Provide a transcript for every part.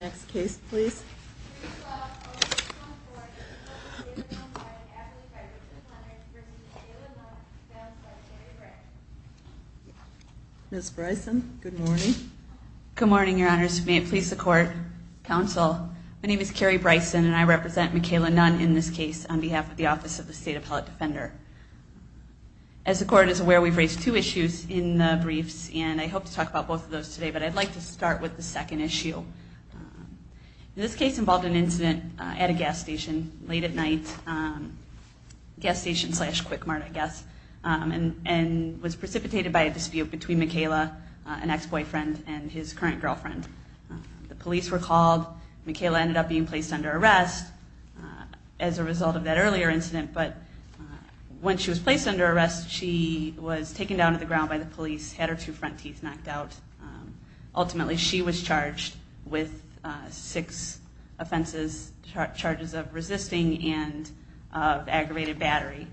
Next case, please. Miss Bryson, good morning. Good morning, Your Honors, may it please the court, counsel. My name is Carrie Bryson, and I represent Michaela Nunn in this case on behalf of the Office of the State Appellate Defender. As the court is aware, we've raised two issues in the briefs, and I hope to talk about both of those today, but I'd like to start with the second issue. This case involved an incident at a gas station late at night, gas station slash quick mart, I guess, and was precipitated by a dispute between Michaela, an ex-boyfriend, and his current girlfriend. The police were called. Michaela ended up being placed under arrest as a result of that earlier incident, but when she was placed under arrest, she was taken down to the ground by the police, had her two front teeth knocked out. Ultimately, she was charged with six offenses, charges of resisting and aggravated battery.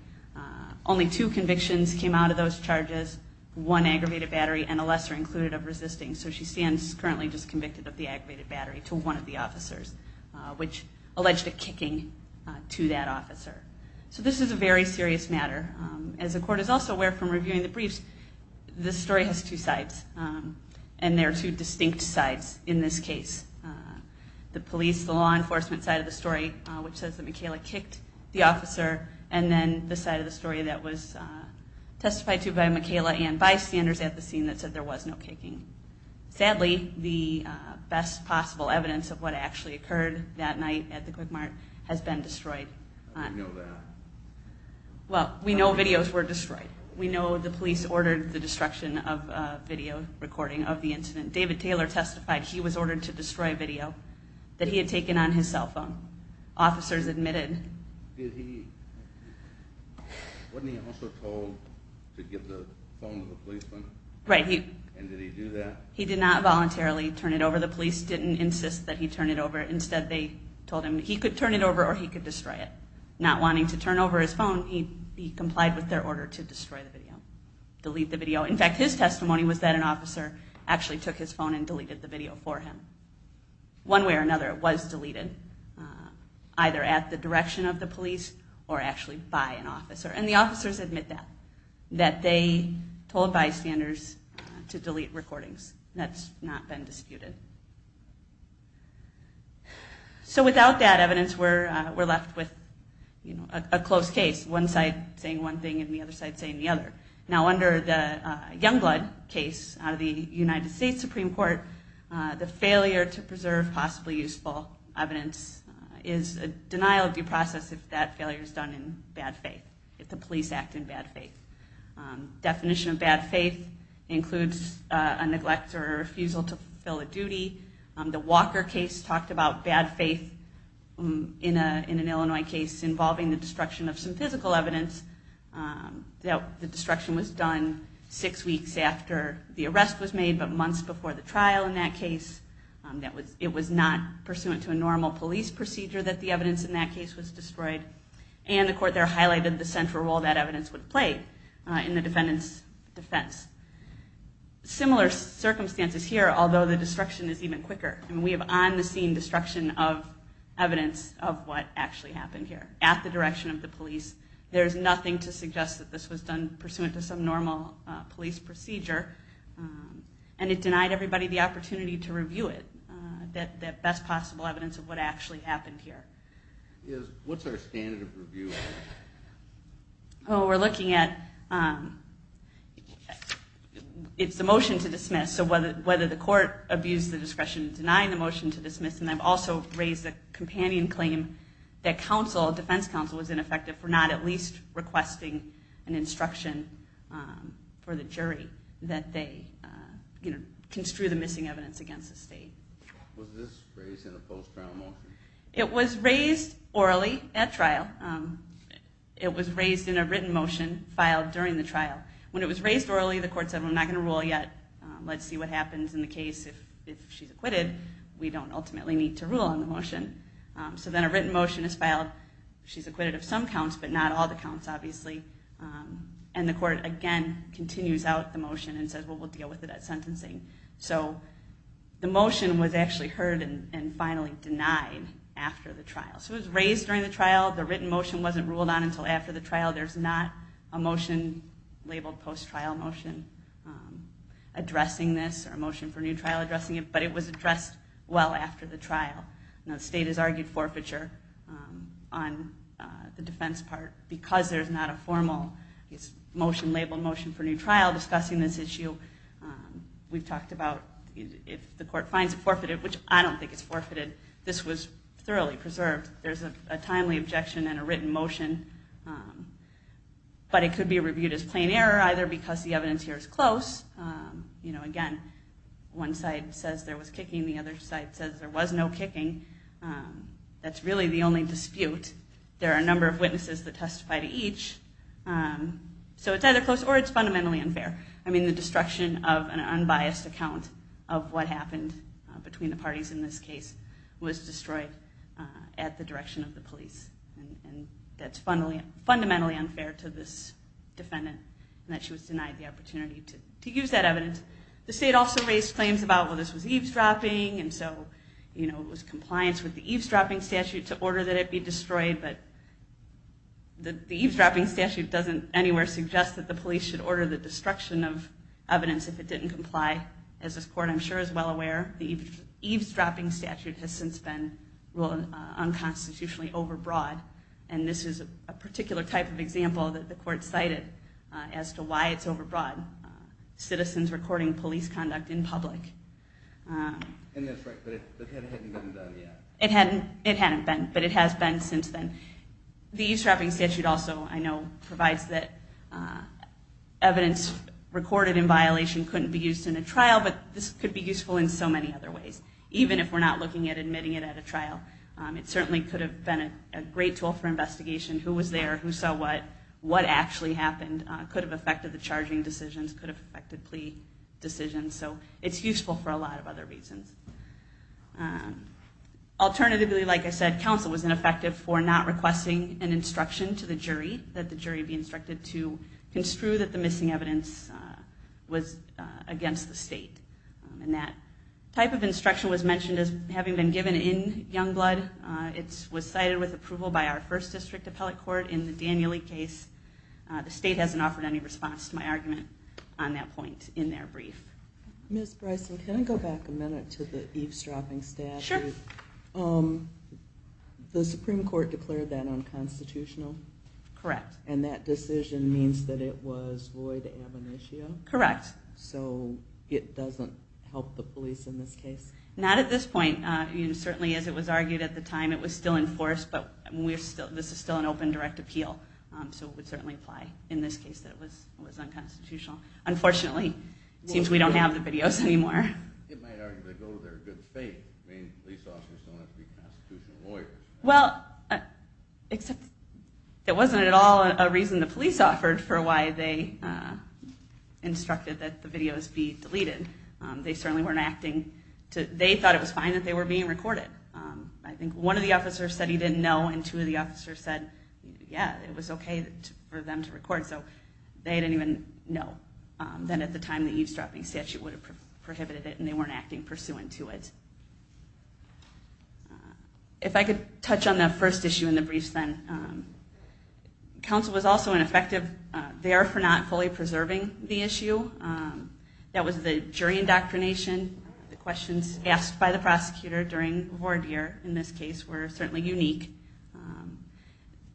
Only two convictions came out of those charges, one aggravated battery and a lesser included of resisting, so she stands currently just convicted of the aggravated battery to one of the officers, which alleged a kicking to that officer. So this is a very serious matter. As the court is also aware from reviewing the briefs, this is a very serious matter, and there are two distinct sides in this case. The police, the law enforcement side of the story, which says that Michaela kicked the officer, and then the side of the story that was testified to by Michaela and by standers at the scene that said there was no kicking. Sadly, the best possible evidence of what actually occurred that night at the quick mart has been destroyed. How do you know that? Well, we know videos were destroyed. We know the police ordered the destruction of a video recording of the incident. David Taylor testified he was ordered to destroy a video that he had taken on his cell phone. Officers admitted. Did he... Wasn't he also told to give the phone to the policeman? Right. He... And did he do that? He did not voluntarily turn it over. The police didn't insist that he turn it over. Instead, they told him he could turn it over or he could destroy it. Not wanting to turn over his phone, he complied with their order to destroy the video, delete the video. In fact, his testimony was that an officer actually took his phone and deleted the video for him. One way or another, it was deleted, either at the direction of the police or actually by an officer. And the officers admit that, that they told bystanders to delete recordings. That's not been disputed. So without that evidence, we're left with a close case, one side saying one thing and the other side saying the other. Now, under the Youngblood case out of the United States Supreme Court, the failure to preserve possibly useful evidence is a denial of due process if that failure is done in bad faith, if the police act in bad faith. Definition of bad faith includes a neglect or a refusal to fulfill a duty. The Walker case talked about bad faith in an Illinois case involving the destruction of some physical evidence that the destruction was done six weeks after the arrest was made, but months before the trial in that case. It was not pursuant to a normal police procedure that the evidence in that case was destroyed. And the court there highlighted the central role that evidence would play in the defendant's defense. Similar circumstances here, although the destruction is even quicker. And we have on the scene destruction of evidence of what actually happened here at the direction of the police. There's nothing to suggest that this was done pursuant to some normal police procedure. And it denied everybody the opportunity to review it, that best possible evidence of what actually happened here. What's our standard of review? Oh, we're looking at... It's the motion to dismiss, so whether the court abused the discretion in denying the motion to dismiss. And I've also raised a companion claim that defense counsel was ineffective for not at least requesting an instruction for the jury that they construe the missing evidence against the state. Was this raised in a post trial motion? It was raised orally at trial. It was raised in a written motion filed during the trial. When it was raised orally, the court said, I'm not gonna rule yet, let's see what happens in the case. If she's acquitted, we don't ultimately need to rule on the motion. So then a written motion is filed. She's acquitted of some counts, but not all the counts, obviously. And the court again continues out the motion and says, well, we'll deal with it at sentencing. So the motion was actually heard and finally denied after the trial. So it was raised during the trial. The written motion wasn't ruled on until after the trial. There's not a motion labeled post trial motion addressing this or a motion for new trial addressing it, but it was addressed well after the trial. Now the state has argued forfeiture on the defense part because there's not a formal motion labeled motion for new trial discussing this issue. We've talked about if the court finds it forfeited, which I don't think it's forfeited. This was thoroughly preserved. There's a timely objection and a written motion, but it could be reviewed as plain error either because the evidence here is there was kicking. The other side says there was no kicking. That's really the only dispute. There are a number of witnesses that testify to each. So it's either close or it's fundamentally unfair. I mean, the destruction of an unbiased account of what happened between the parties in this case was destroyed at the direction of the police. And that's fundamentally unfair to this defendant and that she was denied the opportunity to use that evidence. The state also raised claims about, well, this was eavesdropping. And so, you know, it was compliance with the eavesdropping statute to order that it be destroyed. But the eavesdropping statute doesn't anywhere suggest that the police should order the destruction of evidence if it didn't comply. As this court, I'm sure is well aware, the eavesdropping statute has since been ruled unconstitutionally overbroad. And this is a particular type of example that the court cited as to why it's unconstitutionally reporting police conduct in public. It hadn't been, but it has been since then. The eavesdropping statute also I know provides that evidence recorded in violation couldn't be used in a trial, but this could be useful in so many other ways. Even if we're not looking at admitting it at a trial, it certainly could have been a great tool for investigation. Who was there? Who saw what? What actually happened? Could have affected the charging decisions. Could have affected plea decisions. So it's useful for a lot of other reasons. Alternatively, like I said, counsel was ineffective for not requesting an instruction to the jury that the jury be instructed to construe that the missing evidence was against the state. And that type of instruction was mentioned as having been given in Youngblood. It was cited with approval by our first district appellate court in the Danieli case. The state hasn't offered any response to my argument. On that point in their brief. Ms. Bryson, can I go back a minute to the eavesdropping statute? The Supreme Court declared that unconstitutional. Correct. And that decision means that it was Lloyd Abinishio? Correct. So it doesn't help the police in this case? Not at this point. You know, certainly as it was argued at the time, it was still enforced, but we're still, this is still an open direct appeal. So it would certainly apply in this case that it was, it was unconstitutional. Unfortunately, it seems we don't have the videos anymore. It might argue they go to their good faith. I mean, police officers don't have to be constitutional lawyers. Well, except that wasn't at all a reason the police offered for why they instructed that the videos be deleted. They certainly weren't acting to, they thought it was fine that they were being recorded. I think one of the officers said he didn't know. And two of the officers said, yeah, it was okay for them to record. So they didn't even know. Then at the time that eavesdropping statute would have prohibited it and they weren't acting pursuant to it. If I could touch on the first issue in the briefs, then counsel was also an effective there for not fully preserving the issue. That was the jury indoctrination. The questions asked by the prosecutor during the board year in this case were certainly unique.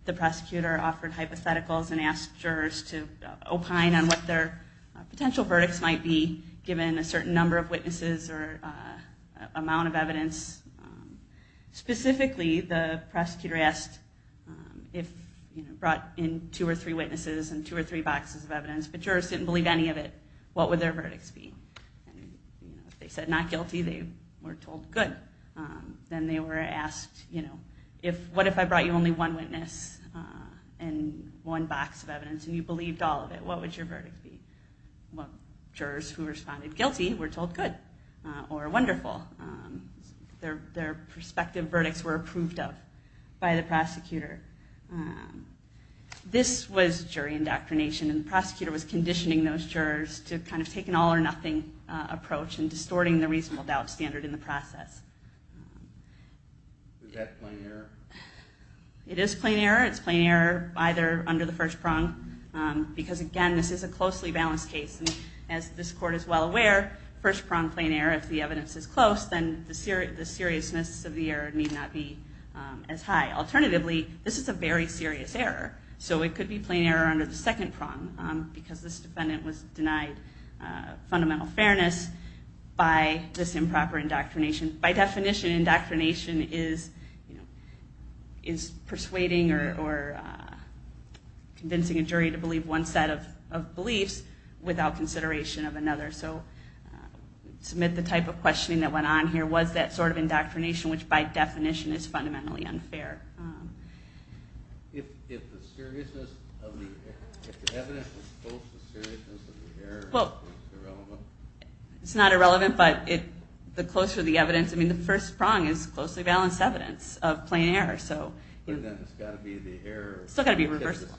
The prosecutor offered hypotheticals and asked jurors to opine on what their potential verdicts might be given a certain number of witnesses or a amount of evidence. Specifically, the prosecutor asked if you brought in two or three witnesses and two or three boxes of evidence, but jurors didn't believe any of it. What would their verdicts be? And if they said not guilty, they were told good. Then they were asked, you know, if, what if I brought you only one witness and one box of evidence and you believed all of it, what would your verdict be? Well, jurors who responded guilty were told good or wonderful. Their, their perspective verdicts were approved of by the prosecutor. This was jury indoctrination and the prosecutor was conditioning those jurors to kind of take an all or nothing approach and distorting the reasonable doubt standard in the process. It is plain error. It's plain error either under the first prong. Because again, this is a closely balanced case. And as this court is well aware, first prong plain error, if the evidence is close, then the seriousness of the error need not be as high. Alternatively, this is a very serious error. So it could be plain error under the second prong because this defendant was denied fundamental fairness by this improper indoctrination. By definition, indoctrination is, you know, forcing a jury to believe one set of beliefs without consideration of another. So submit the type of questioning that went on here was that sort of indoctrination, which by definition is fundamentally unfair. If, if the seriousness of the evidence was close to the seriousness of the error, it's not irrelevant, but it, the closer the evidence, I mean the first prong is closely balanced evidence of plain error. So it's got to be the error. It's still got to be reversible.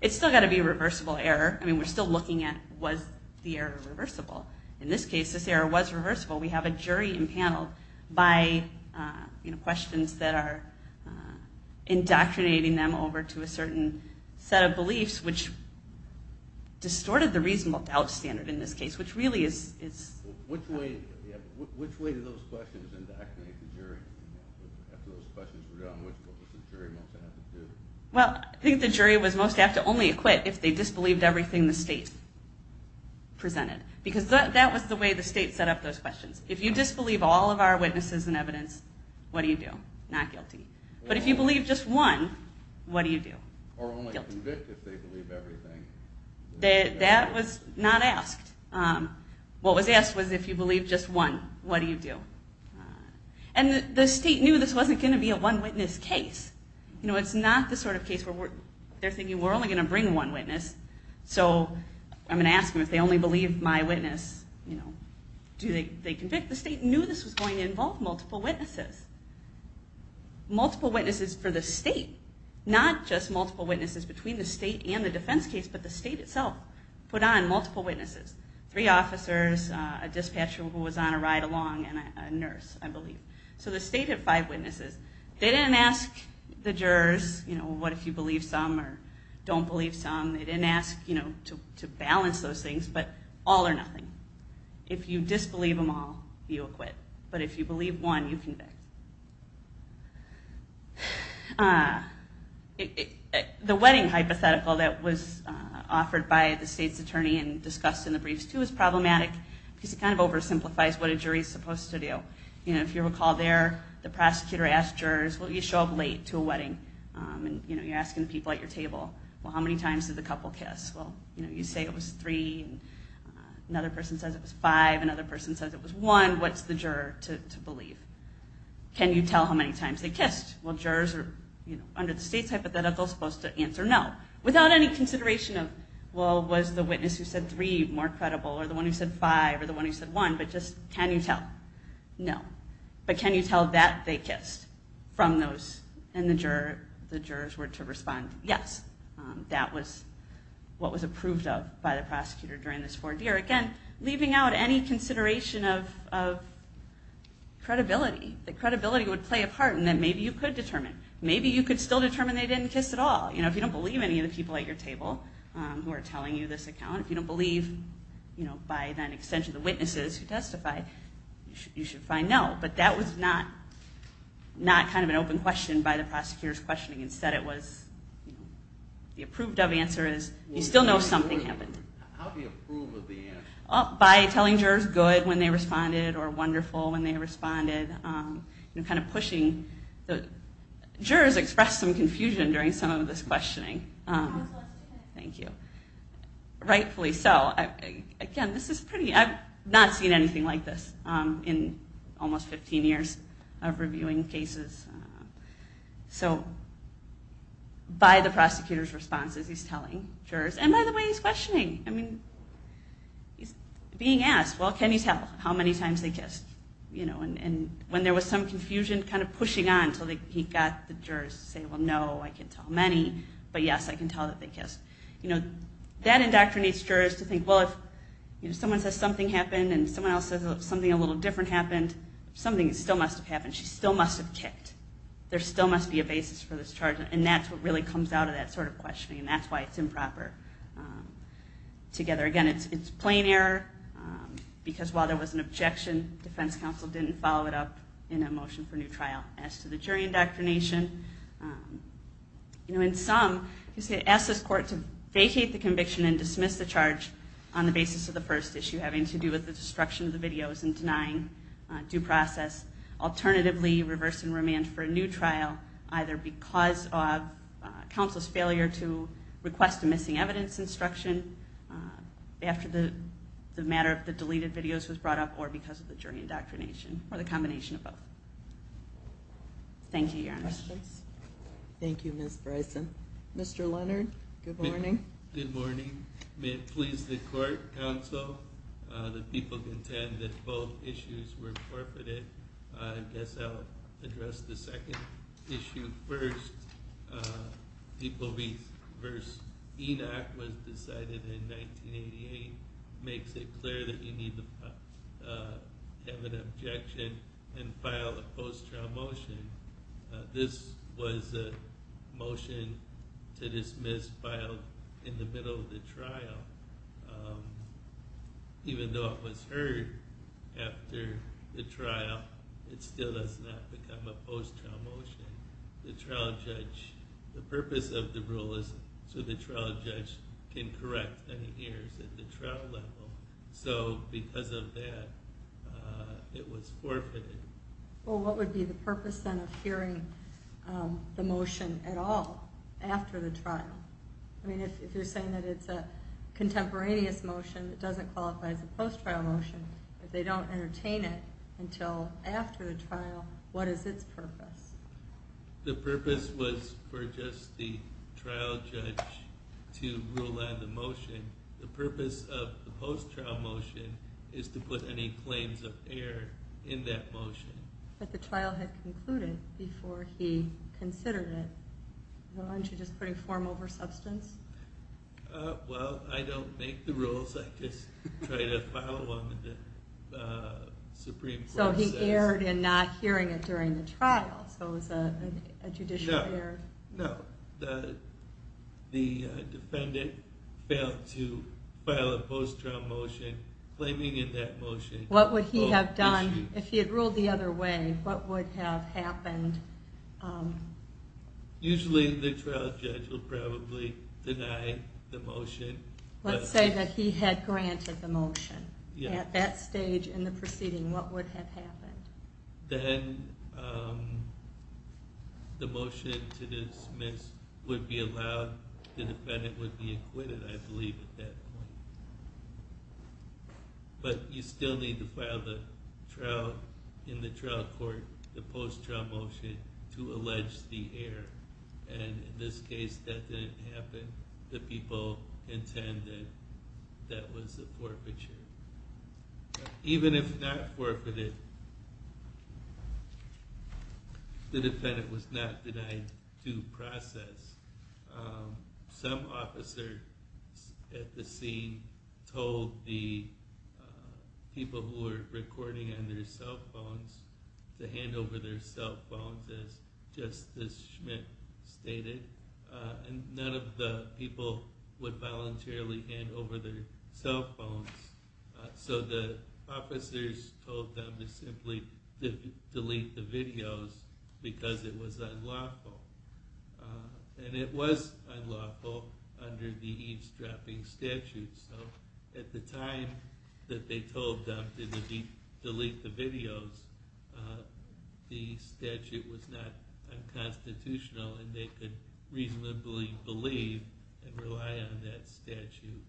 It's still got to be a reversible error. I mean, we're still looking at was the error reversible. In this case, this error was reversible. We have a jury impaneled by, you know, questions that are indoctrinating them over to a certain set of beliefs, which distorted the reasonable doubt standard in this case, which really is, is which way, which way did those questions indoctrinate the jury? After those questions were done, which was the jury most apt to do? Well, I think the jury was most apt to only acquit if they disbelieved everything the state presented, because that was the way the state set up those questions. If you disbelieve all of our witnesses and evidence, what do you do? Not guilty. But if you believe just one, what do you do? Or only convict if they believe everything. That was not asked. What was asked was if you believe just one, what do you do? And the state knew this wasn't going to be a one witness case. You know, it's not the sort of case where they're thinking we're only going to bring one witness. So I'm going to ask them if they only believe my witness, you know, do they convict? The state knew this was going to involve multiple witnesses, multiple witnesses for the state, not just multiple witnesses between the state and the defense case, but the state itself put on multiple witnesses, three officers, a dispatcher who was on a ride along and a nurse, I believe. So the state had five witnesses. They didn't ask the jurors, you know, what if you believe some or don't believe some. They didn't ask, you know, to balance those things, but all or nothing. If you disbelieve them all, you acquit. But if you believe one, you convict. The wedding hypothetical that was offered by the state's attorney and discussed in the briefs too is problematic because it kind of oversimplifies what a jury is supposed to do. You know, if you recall there, the prosecutor asked jurors, well, you show up late to a wedding and you know, you're asking the people at your table, well, how many times did the couple kiss? Well, you know, you say it was three and another person says it was five. Another person says it was one. What's the juror to believe? Can you tell how many times they kissed? Well, jurors are under the state's hypothetical supposed to answer no. Without any consideration of, well, was the witness who said three more credible or the one who said five or the one who said one, but just can you tell? No. But can you tell that they kissed from those and the jurors were to respond, yes, that was what was approved of by the prosecutor during this four-year. Again, leaving out any consideration of credibility, the credibility would play a part in that. Maybe you could determine, maybe you could still determine they didn't kiss at all. You know, if you don't believe any of the people at your table who are telling you this account, if you don't believe, you know, by then extension, the witnesses who testify, you should find no, but that was not kind of an open question by the prosecutor's questioning. Instead it was, you know, the approved of answer is you still know something happened by telling jurors good when they responded or wonderful when they responded and kind of pushing the jurors expressed some confusion during some of this questioning. Thank you. Rightfully so again, this is pretty, I've not seen anything like this in almost 15 years of reviewing cases. So by the prosecutor's responses, he's telling jurors and by the way, he's questioning, I mean, he's being asked, well, can you tell how many times they kissed, you know, and when there was some confusion kind of pushing on until he got the jurors to say, well, no, I can't tell many, but yes, I can tell that they kissed, you know, that indoctrinates jurors to think, well, if someone says something happened and someone else says something a little different happened, something still must've happened. She still must've kicked. There still must be a basis for this charge. And that's what really comes out of that sort of questioning. And that's why it's improper together. Again, it's, it's plain error because while there was an objection, defense counsel didn't follow it up in a motion for new trial as to the jury indoctrination. You know, in some, you say ask this court to vacate the conviction and dismiss the charge on the basis of the first issue, having to do with the destruction of the videos and denying due process, alternatively reverse and remand for a new trial, either because of counsel's failure to request a missing evidence instruction after the matter of the deleted videos was brought up or because of the jury indoctrination or the combination of both. Thank you. Thank you, Ms. Bryson, Mr. Leonard. Good morning. Good morning. May it please the court counsel, the people contend that both issues were forfeited. I guess I'll address the second issue. First, people be verse Enoch was decided in 1988. Makes it clear that you need to have an objection and file a post trial motion. This was a motion to dismiss filed in the middle of the trial. Even though it was heard after the trial, it still does not become a post trial motion. The trial judge, the purpose of the rule is so the trial judge can correct any ears at the trial level. So because of that, uh, it was forfeited. Well, what would be the purpose then of hearing, um, the motion at all after the trial? I mean, if you're saying that it's a contemporaneous motion, it doesn't qualify as a post trial motion, but they don't entertain it until after the trial. What is its purpose? The purpose was for just the trial judge to rule on the motion. The purpose of the post trial motion is to put any claims of air in that motion that the trial had concluded before he considered it. Well, aren't you just putting form over substance? Uh, well, I don't make the rules. I just try to follow along with the, uh, so he erred in not hearing it during the trial. So it was a, a judicial error. No, the defendant failed to file a post trial motion claiming in that motion. What would he have done if he had ruled the other way? What would have happened? Um, usually the trial judge will probably deny the motion. Let's say that he had granted the motion at that stage in the proceeding. What would have happened then? Um, the motion to dismiss would be allowed. The defendant would be acquitted, I believe at that point. But you still need to file the trial in the trial court, the post trial motion to allege the air. And in this case that didn't happen. The people intend that that was a forfeiture. Even if not forfeited, the defendant was not denied due process. Um, some officer at the scene told the, uh, people who are recording on their cell phones to hand over their cell phones as just this Schmidt stated. Uh, and none of the people would voluntarily hand over their cell phones. So the officers told them to simply delete the videos because it was unlawful. And it was unlawful under the eavesdropping statute. So at the time that they told them to delete the videos, the statute was not unconstitutional and they could reasonably believe and rely on that statute.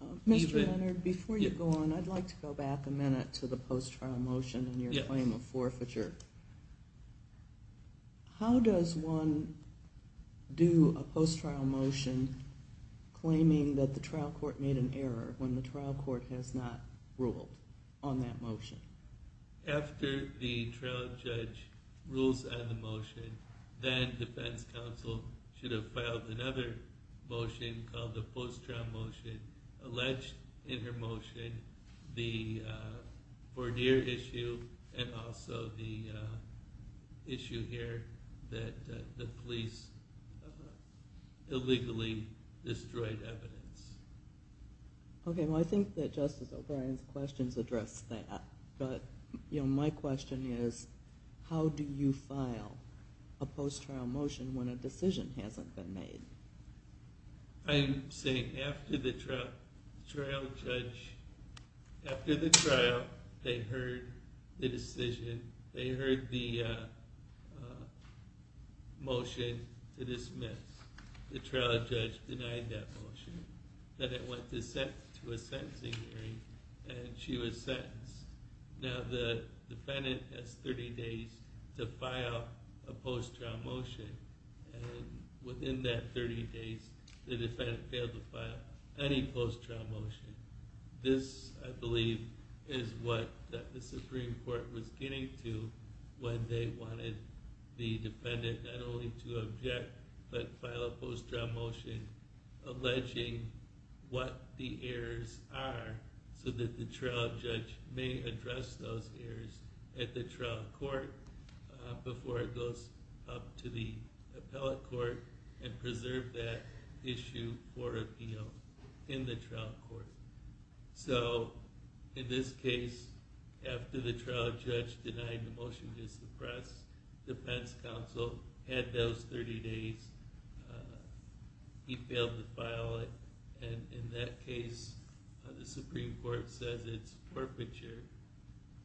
Uh, Mr. Leonard, before you go on, I'd like to go back a minute to the post trial motion and your claim of forfeiture. How does one do a post trial motion claiming that the trial court made an error when the trial court has not ruled on that motion after the trial judge rules and the motion then defense counsel should have another motion called the post trial motion alleged in her motion, the, uh, for dear issue and also the, uh, issue here that the police illegally destroyed evidence. Okay. Well, I think that Justice O'Brien's questions address that. But you know, my question is how do you file a post trial motion when a decision hasn't been made? I'm saying after the trial judge, after the trial, they heard the decision, they heard the, uh, uh, motion to dismiss the trial judge denied that motion, that it went to a sentencing hearing and she was sentenced. Now the defendant has 30 days to file a post trial motion and within that time 30 days, the defendant failed to file any post trial motion. This I believe is what the Supreme Court was getting to when they wanted the defendant not only to object, but file a post trial motion alleging what the errors are so that the trial judge may address those errors at the trial court before it goes up to the appellate court and preserve that issue for appeal in the trial court. So in this case, after the trial judge denied the motion to suppress defense counsel had those 30 days, uh, he failed to file it. And in that case, uh, the Supreme Court says it's forfeiture.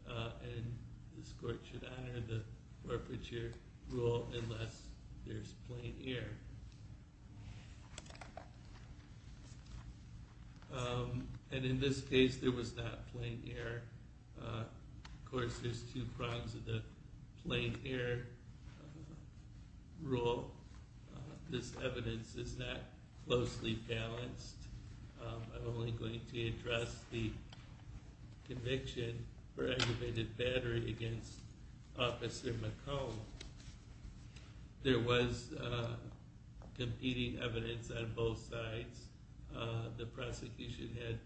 Uh, and this court should honor the forfeiture rule unless there's plaintiffs here. Um, and in this case there was not playing here. Uh, of course there's two problems with the plane here. Rule. Uh, this evidence is that closely balanced. Um, I'm only going to address the conviction for aggravated battery against officer McComb. There was a competing evidence on both sides. Uh, the prosecution had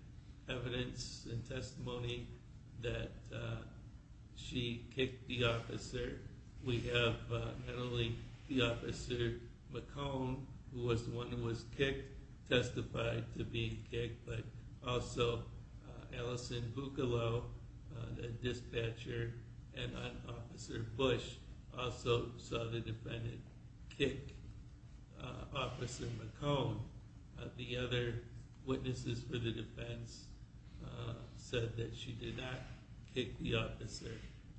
evidence and testimony that she kicked the officer. We have, uh, not only the officer McComb who was the one who was kicked testified to be kicked, but also, uh, Alison Buccalow, uh, the dispatcher and officer Bush also saw the defendant kick, uh, officer McComb. Uh, the other witnesses for the defense, uh, said that she did not kick the officer.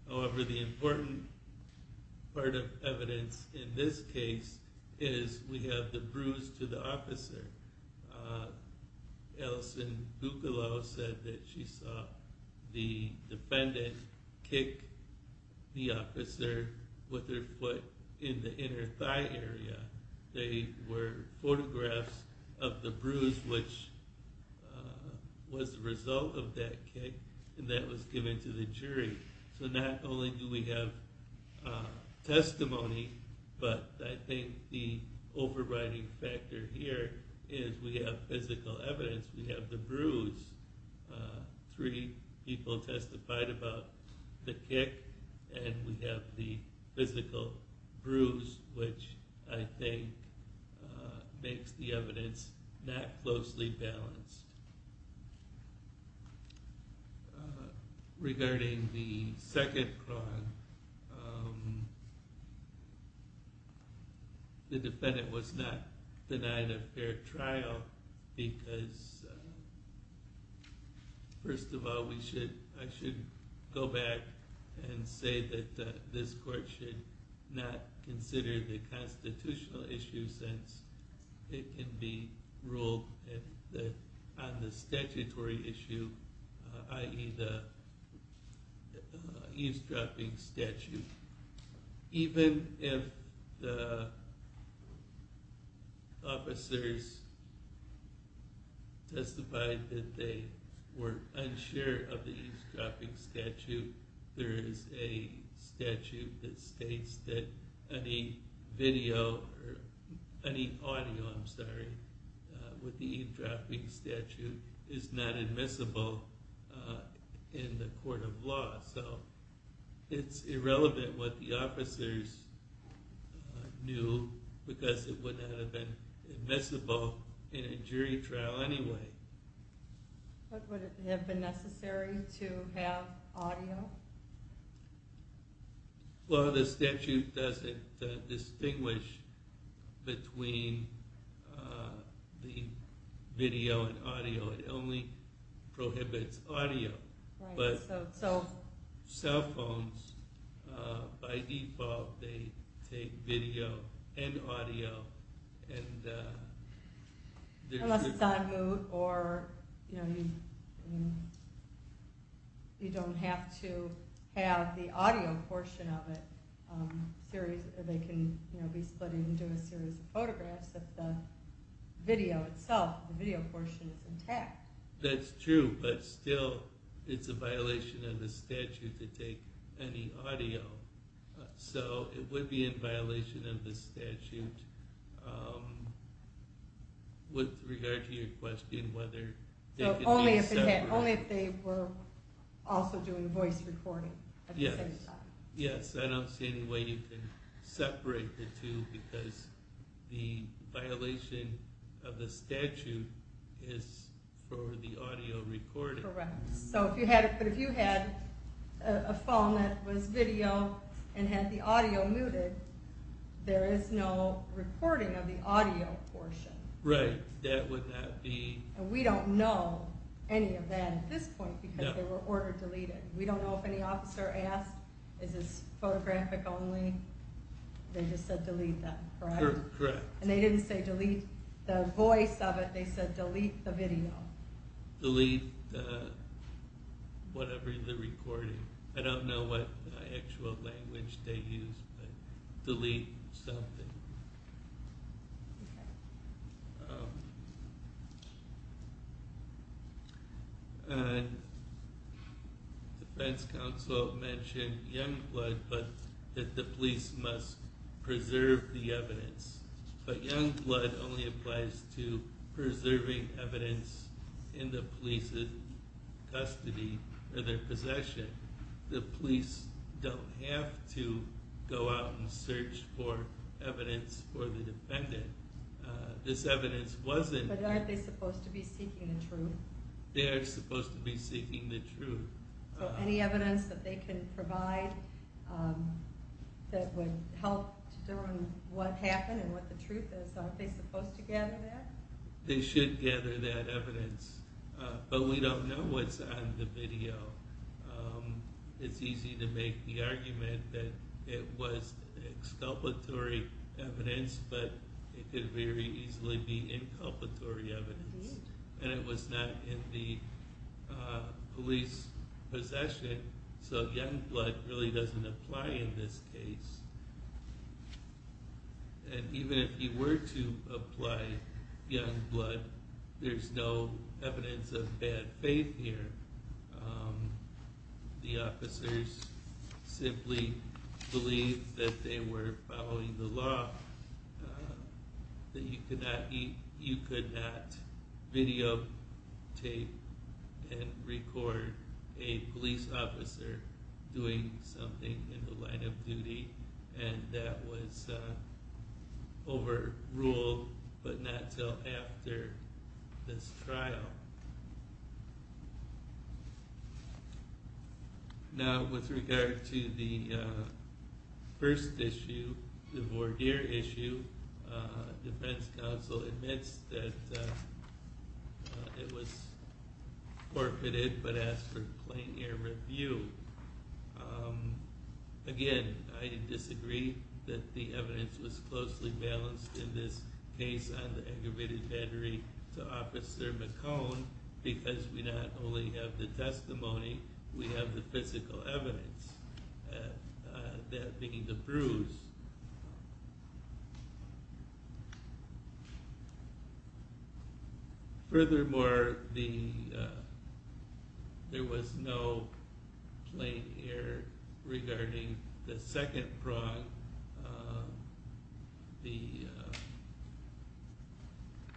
However, the important part of evidence in this case is we have the bruise to the officer. Uh, Alison Buccalow said that she saw the defendant kick the officer with their foot in the inner thigh area. They were photographs of the bruise, which was the result of that kick and that was given to the jury. So not only do we have a testimony, but I think the overriding factor here is we have physical evidence. We have the bruise, uh, three people testified about the kick and we have the physical bruise, which I think, uh, makes the evidence not closely balanced. Regarding the second crime, um, um, the defendant was not denied a fair trial because, first of all, we should, I should go back and say that this court should not consider the constitutional issue since it can be ruled that on the statutory issue, uh, i.e. the eavesdropping statute, even if the officers testified that they were unsure of the eavesdropping statute, there is a statute that states that any video or any audio, I'm sorry, with the eavesdropping statute is not admissible in the court of law. So it's irrelevant what the officers knew because it wouldn't have been admissible in a jury trial anyway. But would it have been necessary to have audio? Well, the statute doesn't distinguish between, uh, the video and audio. It only prohibits audio. Right. So cell phones, uh, by default, they take video and audio and, uh, unless it's on mute or, you know, you don't have to have the audio portion of it. Um, series, they can, you know, be split into a series of photographs that the video itself, the video portion is intact. That's true. But still it's a violation of the statute to take any audio. So it would be in violation of the statute. Um, with regard to your question, whether only if they were also doing voice recording at the same time. Yes. I don't see any way you can separate the two because the violation of the record. So if you had it, but if you had a phone that was video and had the audio muted, there is no reporting of the audio portion. Right. That would not be, and we don't know any of that at this point because they were ordered deleted. We don't know if any officer asked, is this photographic only they just said, delete that. And they didn't say delete the voice of it. They said, delete the video, the lead, whatever the recording, I don't know what actual language they use, but delete something. Uh, the feds council mentioned young blood, but that the police must preserve the evidence. But young blood only applies to preserving evidence in the police's custody or their possession. The police don't have to go out and search for evidence for the defendant. This evidence wasn't, but aren't they supposed to be seeking the truth? They are supposed to be seeking the truth. So any evidence that they can provide, um, help to determine what happened and what the truth is. Aren't they supposed to gather that? They should gather that evidence. Uh, but we don't know what's on the video. Um, it's easy to make the argument that it was exculpatory evidence, but it could very easily be inculpatory evidence and it was not in the police possession. So young blood really doesn't apply in this case. And even if you were to apply young blood, there's no evidence of bad faith here. Um, the officers simply believe that they were following the law, that you could not eat, you could not video tape and record a police officer's testimony. The officer doing something in the line of duty and that was a over ruled, but not till after this trial. Now with regard to the, uh, first issue, the board here issue, uh, defense counsel admits that it was forfeited, but asked for plain air review. Um, again, I disagree that the evidence was closely balanced in this case on the aggravated battery to officer McCone because we not only have the testimony, we have the physical evidence, uh, that being the bruise. Furthermore, the, uh, there was no plain air regarding the second prong. Uh, the,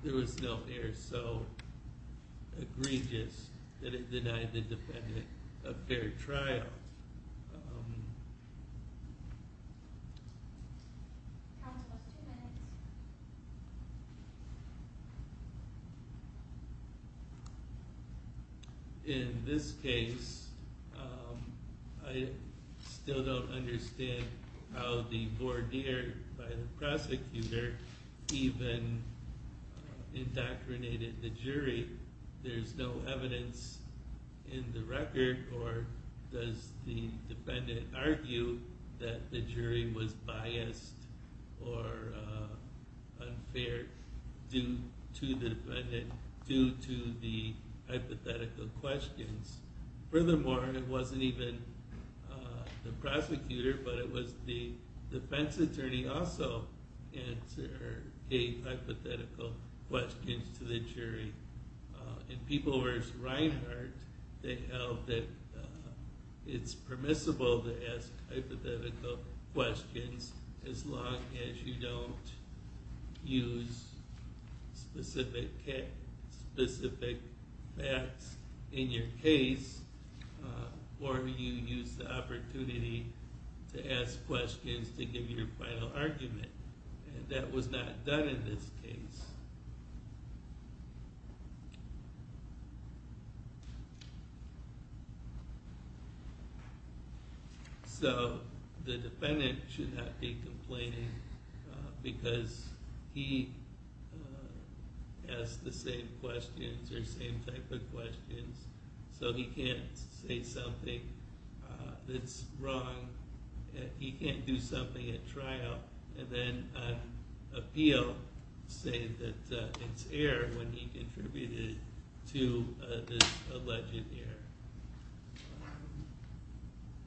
there was no air so egregious that it denied the defendant a fair trial. In this case, um, I still don't understand how the board here by the prosecutor even indoctrinated the jury. There's no evidence in the record or does the defendant argue that the jury was biased or, uh, unfair due to the defendant, due to the hypothetical questions. Furthermore, it wasn't even, uh, the prosecutor, but it was the defense attorney also answer a hypothetical question to the jury. Uh, in people where it's Reinhardt, they held that it's permissible to ask hypothetical questions as long as you don't use specific specific facts in your case, uh, or you use the opportunity to ask questions to give you your final argument. And that was not done in this case. So the defendant should not be complaining because he, uh, asked the same questions or same type of questions. So he can't say something that's wrong. He can't do something at trial and then appeal, say that it's air when he contributed to this alleged air.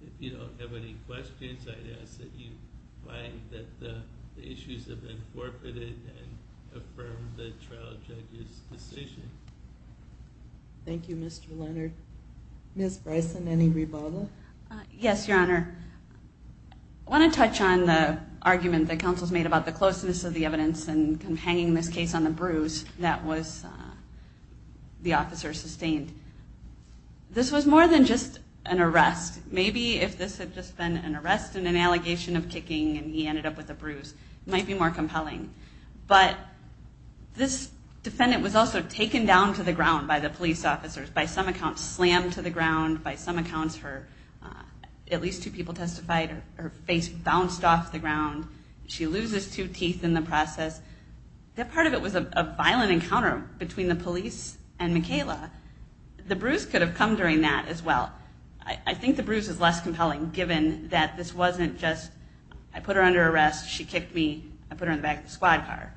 If you don't have any questions, I'd ask that you find that the issues have been forfeited. Affirm the trial judges decision. Thank you, Mr. Leonard. Miss Bryson, any rebuttal? Yes, Your Honor. I want to touch on the argument that counsel's made about the closeness of the evidence and come hanging this case on the bruise that was, uh, the officer sustained. This was more than just an arrest. Maybe if this had just been an arrest and an allegation of kicking and he ended up with a bruise, it might be more compelling. But this defendant was also taken down to the ground by the police officers, by some accounts, slammed to the ground by some accounts, her, at least two people testified her face bounced off the ground. She loses two teeth in the process. That part of it was a violent encounter between the police and Michaela. The bruise could have come during that as well. I think the bruise is less compelling given that this wasn't just, I put her under arrest. She kicked me. I put her in the back of the squad car.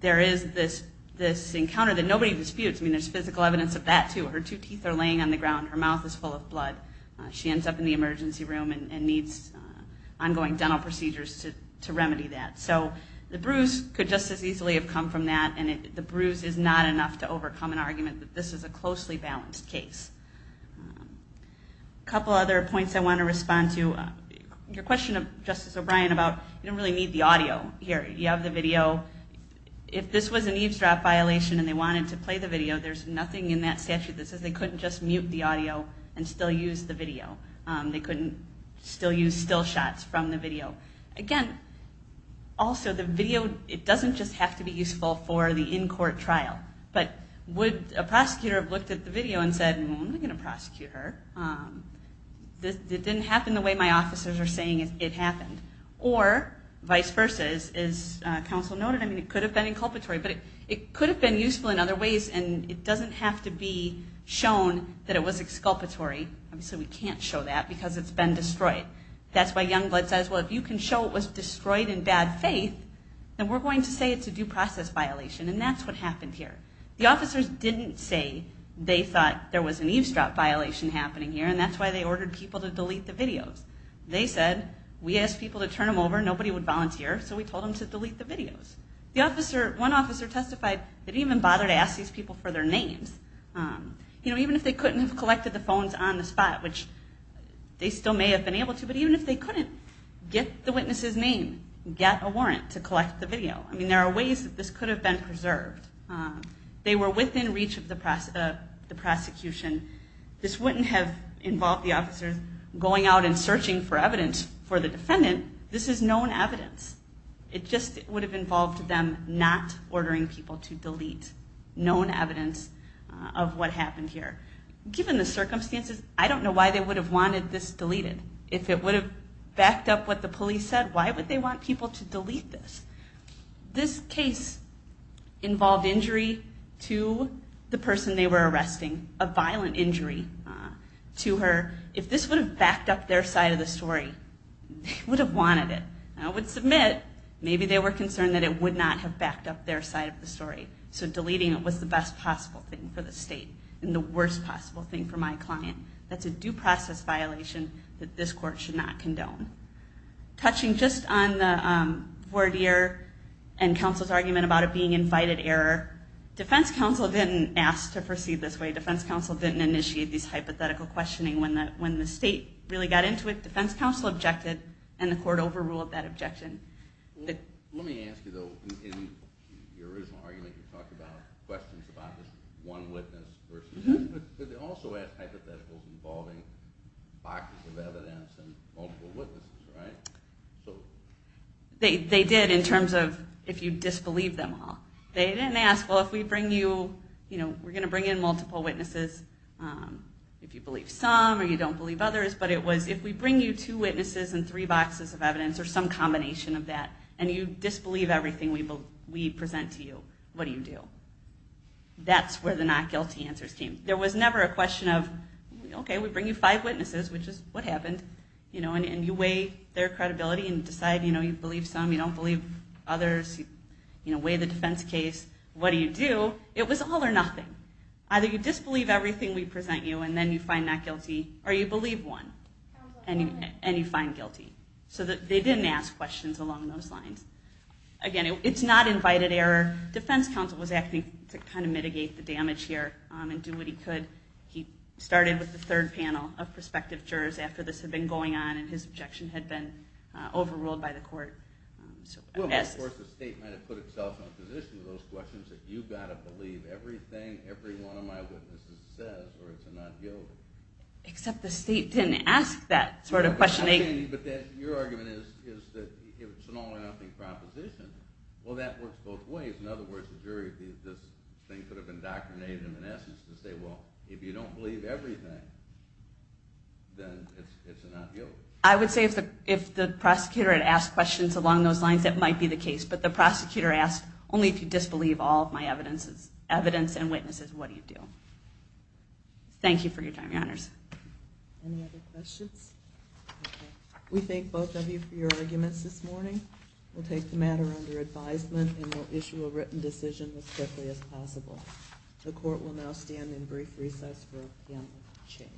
There is this, this encounter that nobody disputes. I mean, there's physical evidence of that too. Her two teeth are laying on the ground. Her mouth is full of blood. She ends up in the emergency room and needs ongoing dental procedures to, to remedy that. So the bruise could just as easily have come from that. And the bruise is not enough to overcome an argument that this is a closely balanced case. A couple other points I want to respond to your question of Justice O'Brien about, you don't really need the audio here. You have the video. If this was an eavesdrop violation and they wanted to play the video, there's nothing in that statute that says they couldn't just mute the audio and still use the video. They couldn't still use still shots from the video. Again, also the video, it doesn't just have to be useful for the in-court trial, but would a prosecutor have looked at the video and said, I'm not going to prosecute her. This didn't happen the way my officers are saying it happened. Or vice versa is, is a council noted. I mean, it could have been inculpatory, but it could have been useful in other ways. And it doesn't have to be shown that it was exculpatory. Obviously we can't show that because it's been destroyed. That's why Youngblood says, well, if you can show it was destroyed in bad faith, then we're going to say it's a due process violation. And that's what happened here. The officers didn't say they thought there was an eavesdrop violation happening here. And that's why they ordered people to delete the videos. They said, we asked people to turn them over. Nobody would volunteer. So we told them to delete the videos. The officer, one officer testified, they didn't even bother to ask these people for their names. Um, you know, even if they couldn't have collected the phones on the spot, which they still may have been able to, but even if they couldn't get the witness's name, get a warrant to collect the video. I mean, there are ways that this could have been preserved. Um, they were within reach of the process of the prosecution. This wouldn't have involved the officers going out and searching for evidence for the defendant. This is known evidence. It just would have involved them not ordering people to delete known evidence of what happened here. Given the circumstances, I don't know why they would have wanted this deleted. If it would have backed up what the police said, why would they want people to delete this? This case involved injury to the person they were arresting, a violent injury to her. If this would have backed up their side of the story, they would have wanted it. I would submit, maybe they were concerned that it would not have backed up their side of the story. So deleting it was the best possible thing for the state and the worst possible thing for my client. That's a due process violation that this court should not condone. Touching just on the, um, voir dire and counsel's argument about it being invited error. Defense counsel didn't ask to proceed this way. Defense counsel didn't initiate these hypothetical questioning when the, when the state really got into it. Defense counsel objected and the court overruled that objection. Let me ask you though, in your original argument, you talked about questions about this one witness versus, but they also asked hypotheticals involving boxes of evidence and multiple witnesses, right? So they, they did in terms of if you disbelieve them all, they didn't ask, well, if we bring you, you know, we're going to bring in multiple witnesses. Um, if you believe some or you don't believe others, but it was, if we bring you two witnesses and three boxes of evidence or some combination of that, and you disbelieve everything we will, we present to you, what do you do? That's where the not guilty answers came. There was never a question of, okay, we bring you five witnesses, which is what happened, you know, and you weigh their credibility and decide, you know, you believe some, you don't believe others, you know, weigh the defense case. What do you do? It was all or nothing. Either you disbelieve everything we present you and then you find not guilty or you believe one and you find guilty so that they didn't ask questions along those lines. Again, it's not invited error. Defense counsel was acting to kind of mitigate the damage here and do what he could. He started with the third panel of prospective jurors after this had been going on and his objection had been overruled by the court. Um, so of course the state might have put itself in a position with those questions that you've got to believe everything every one of my witnesses says or it's a not guilty. Except the state didn't ask that sort of questioning. But your argument is, is that it's an all or nothing proposition. Well, that works both ways. In other words, the jury, these, this thing could have indoctrinated him in essence to say, well, if you don't believe everything, then it's, it's not guilt. I would say if the, if the prosecutor had asked questions along those lines, that might be the case. But the prosecutor asked only if you disbelieve all of my evidences, evidence and witnesses, what do you do? So thank you for your time. Your honors. Any other questions? We thank both of you for your arguments this morning. We'll take the matter under advisement and we'll issue a written decision as quickly as possible. The court will now stand in brief recess for a panel of change.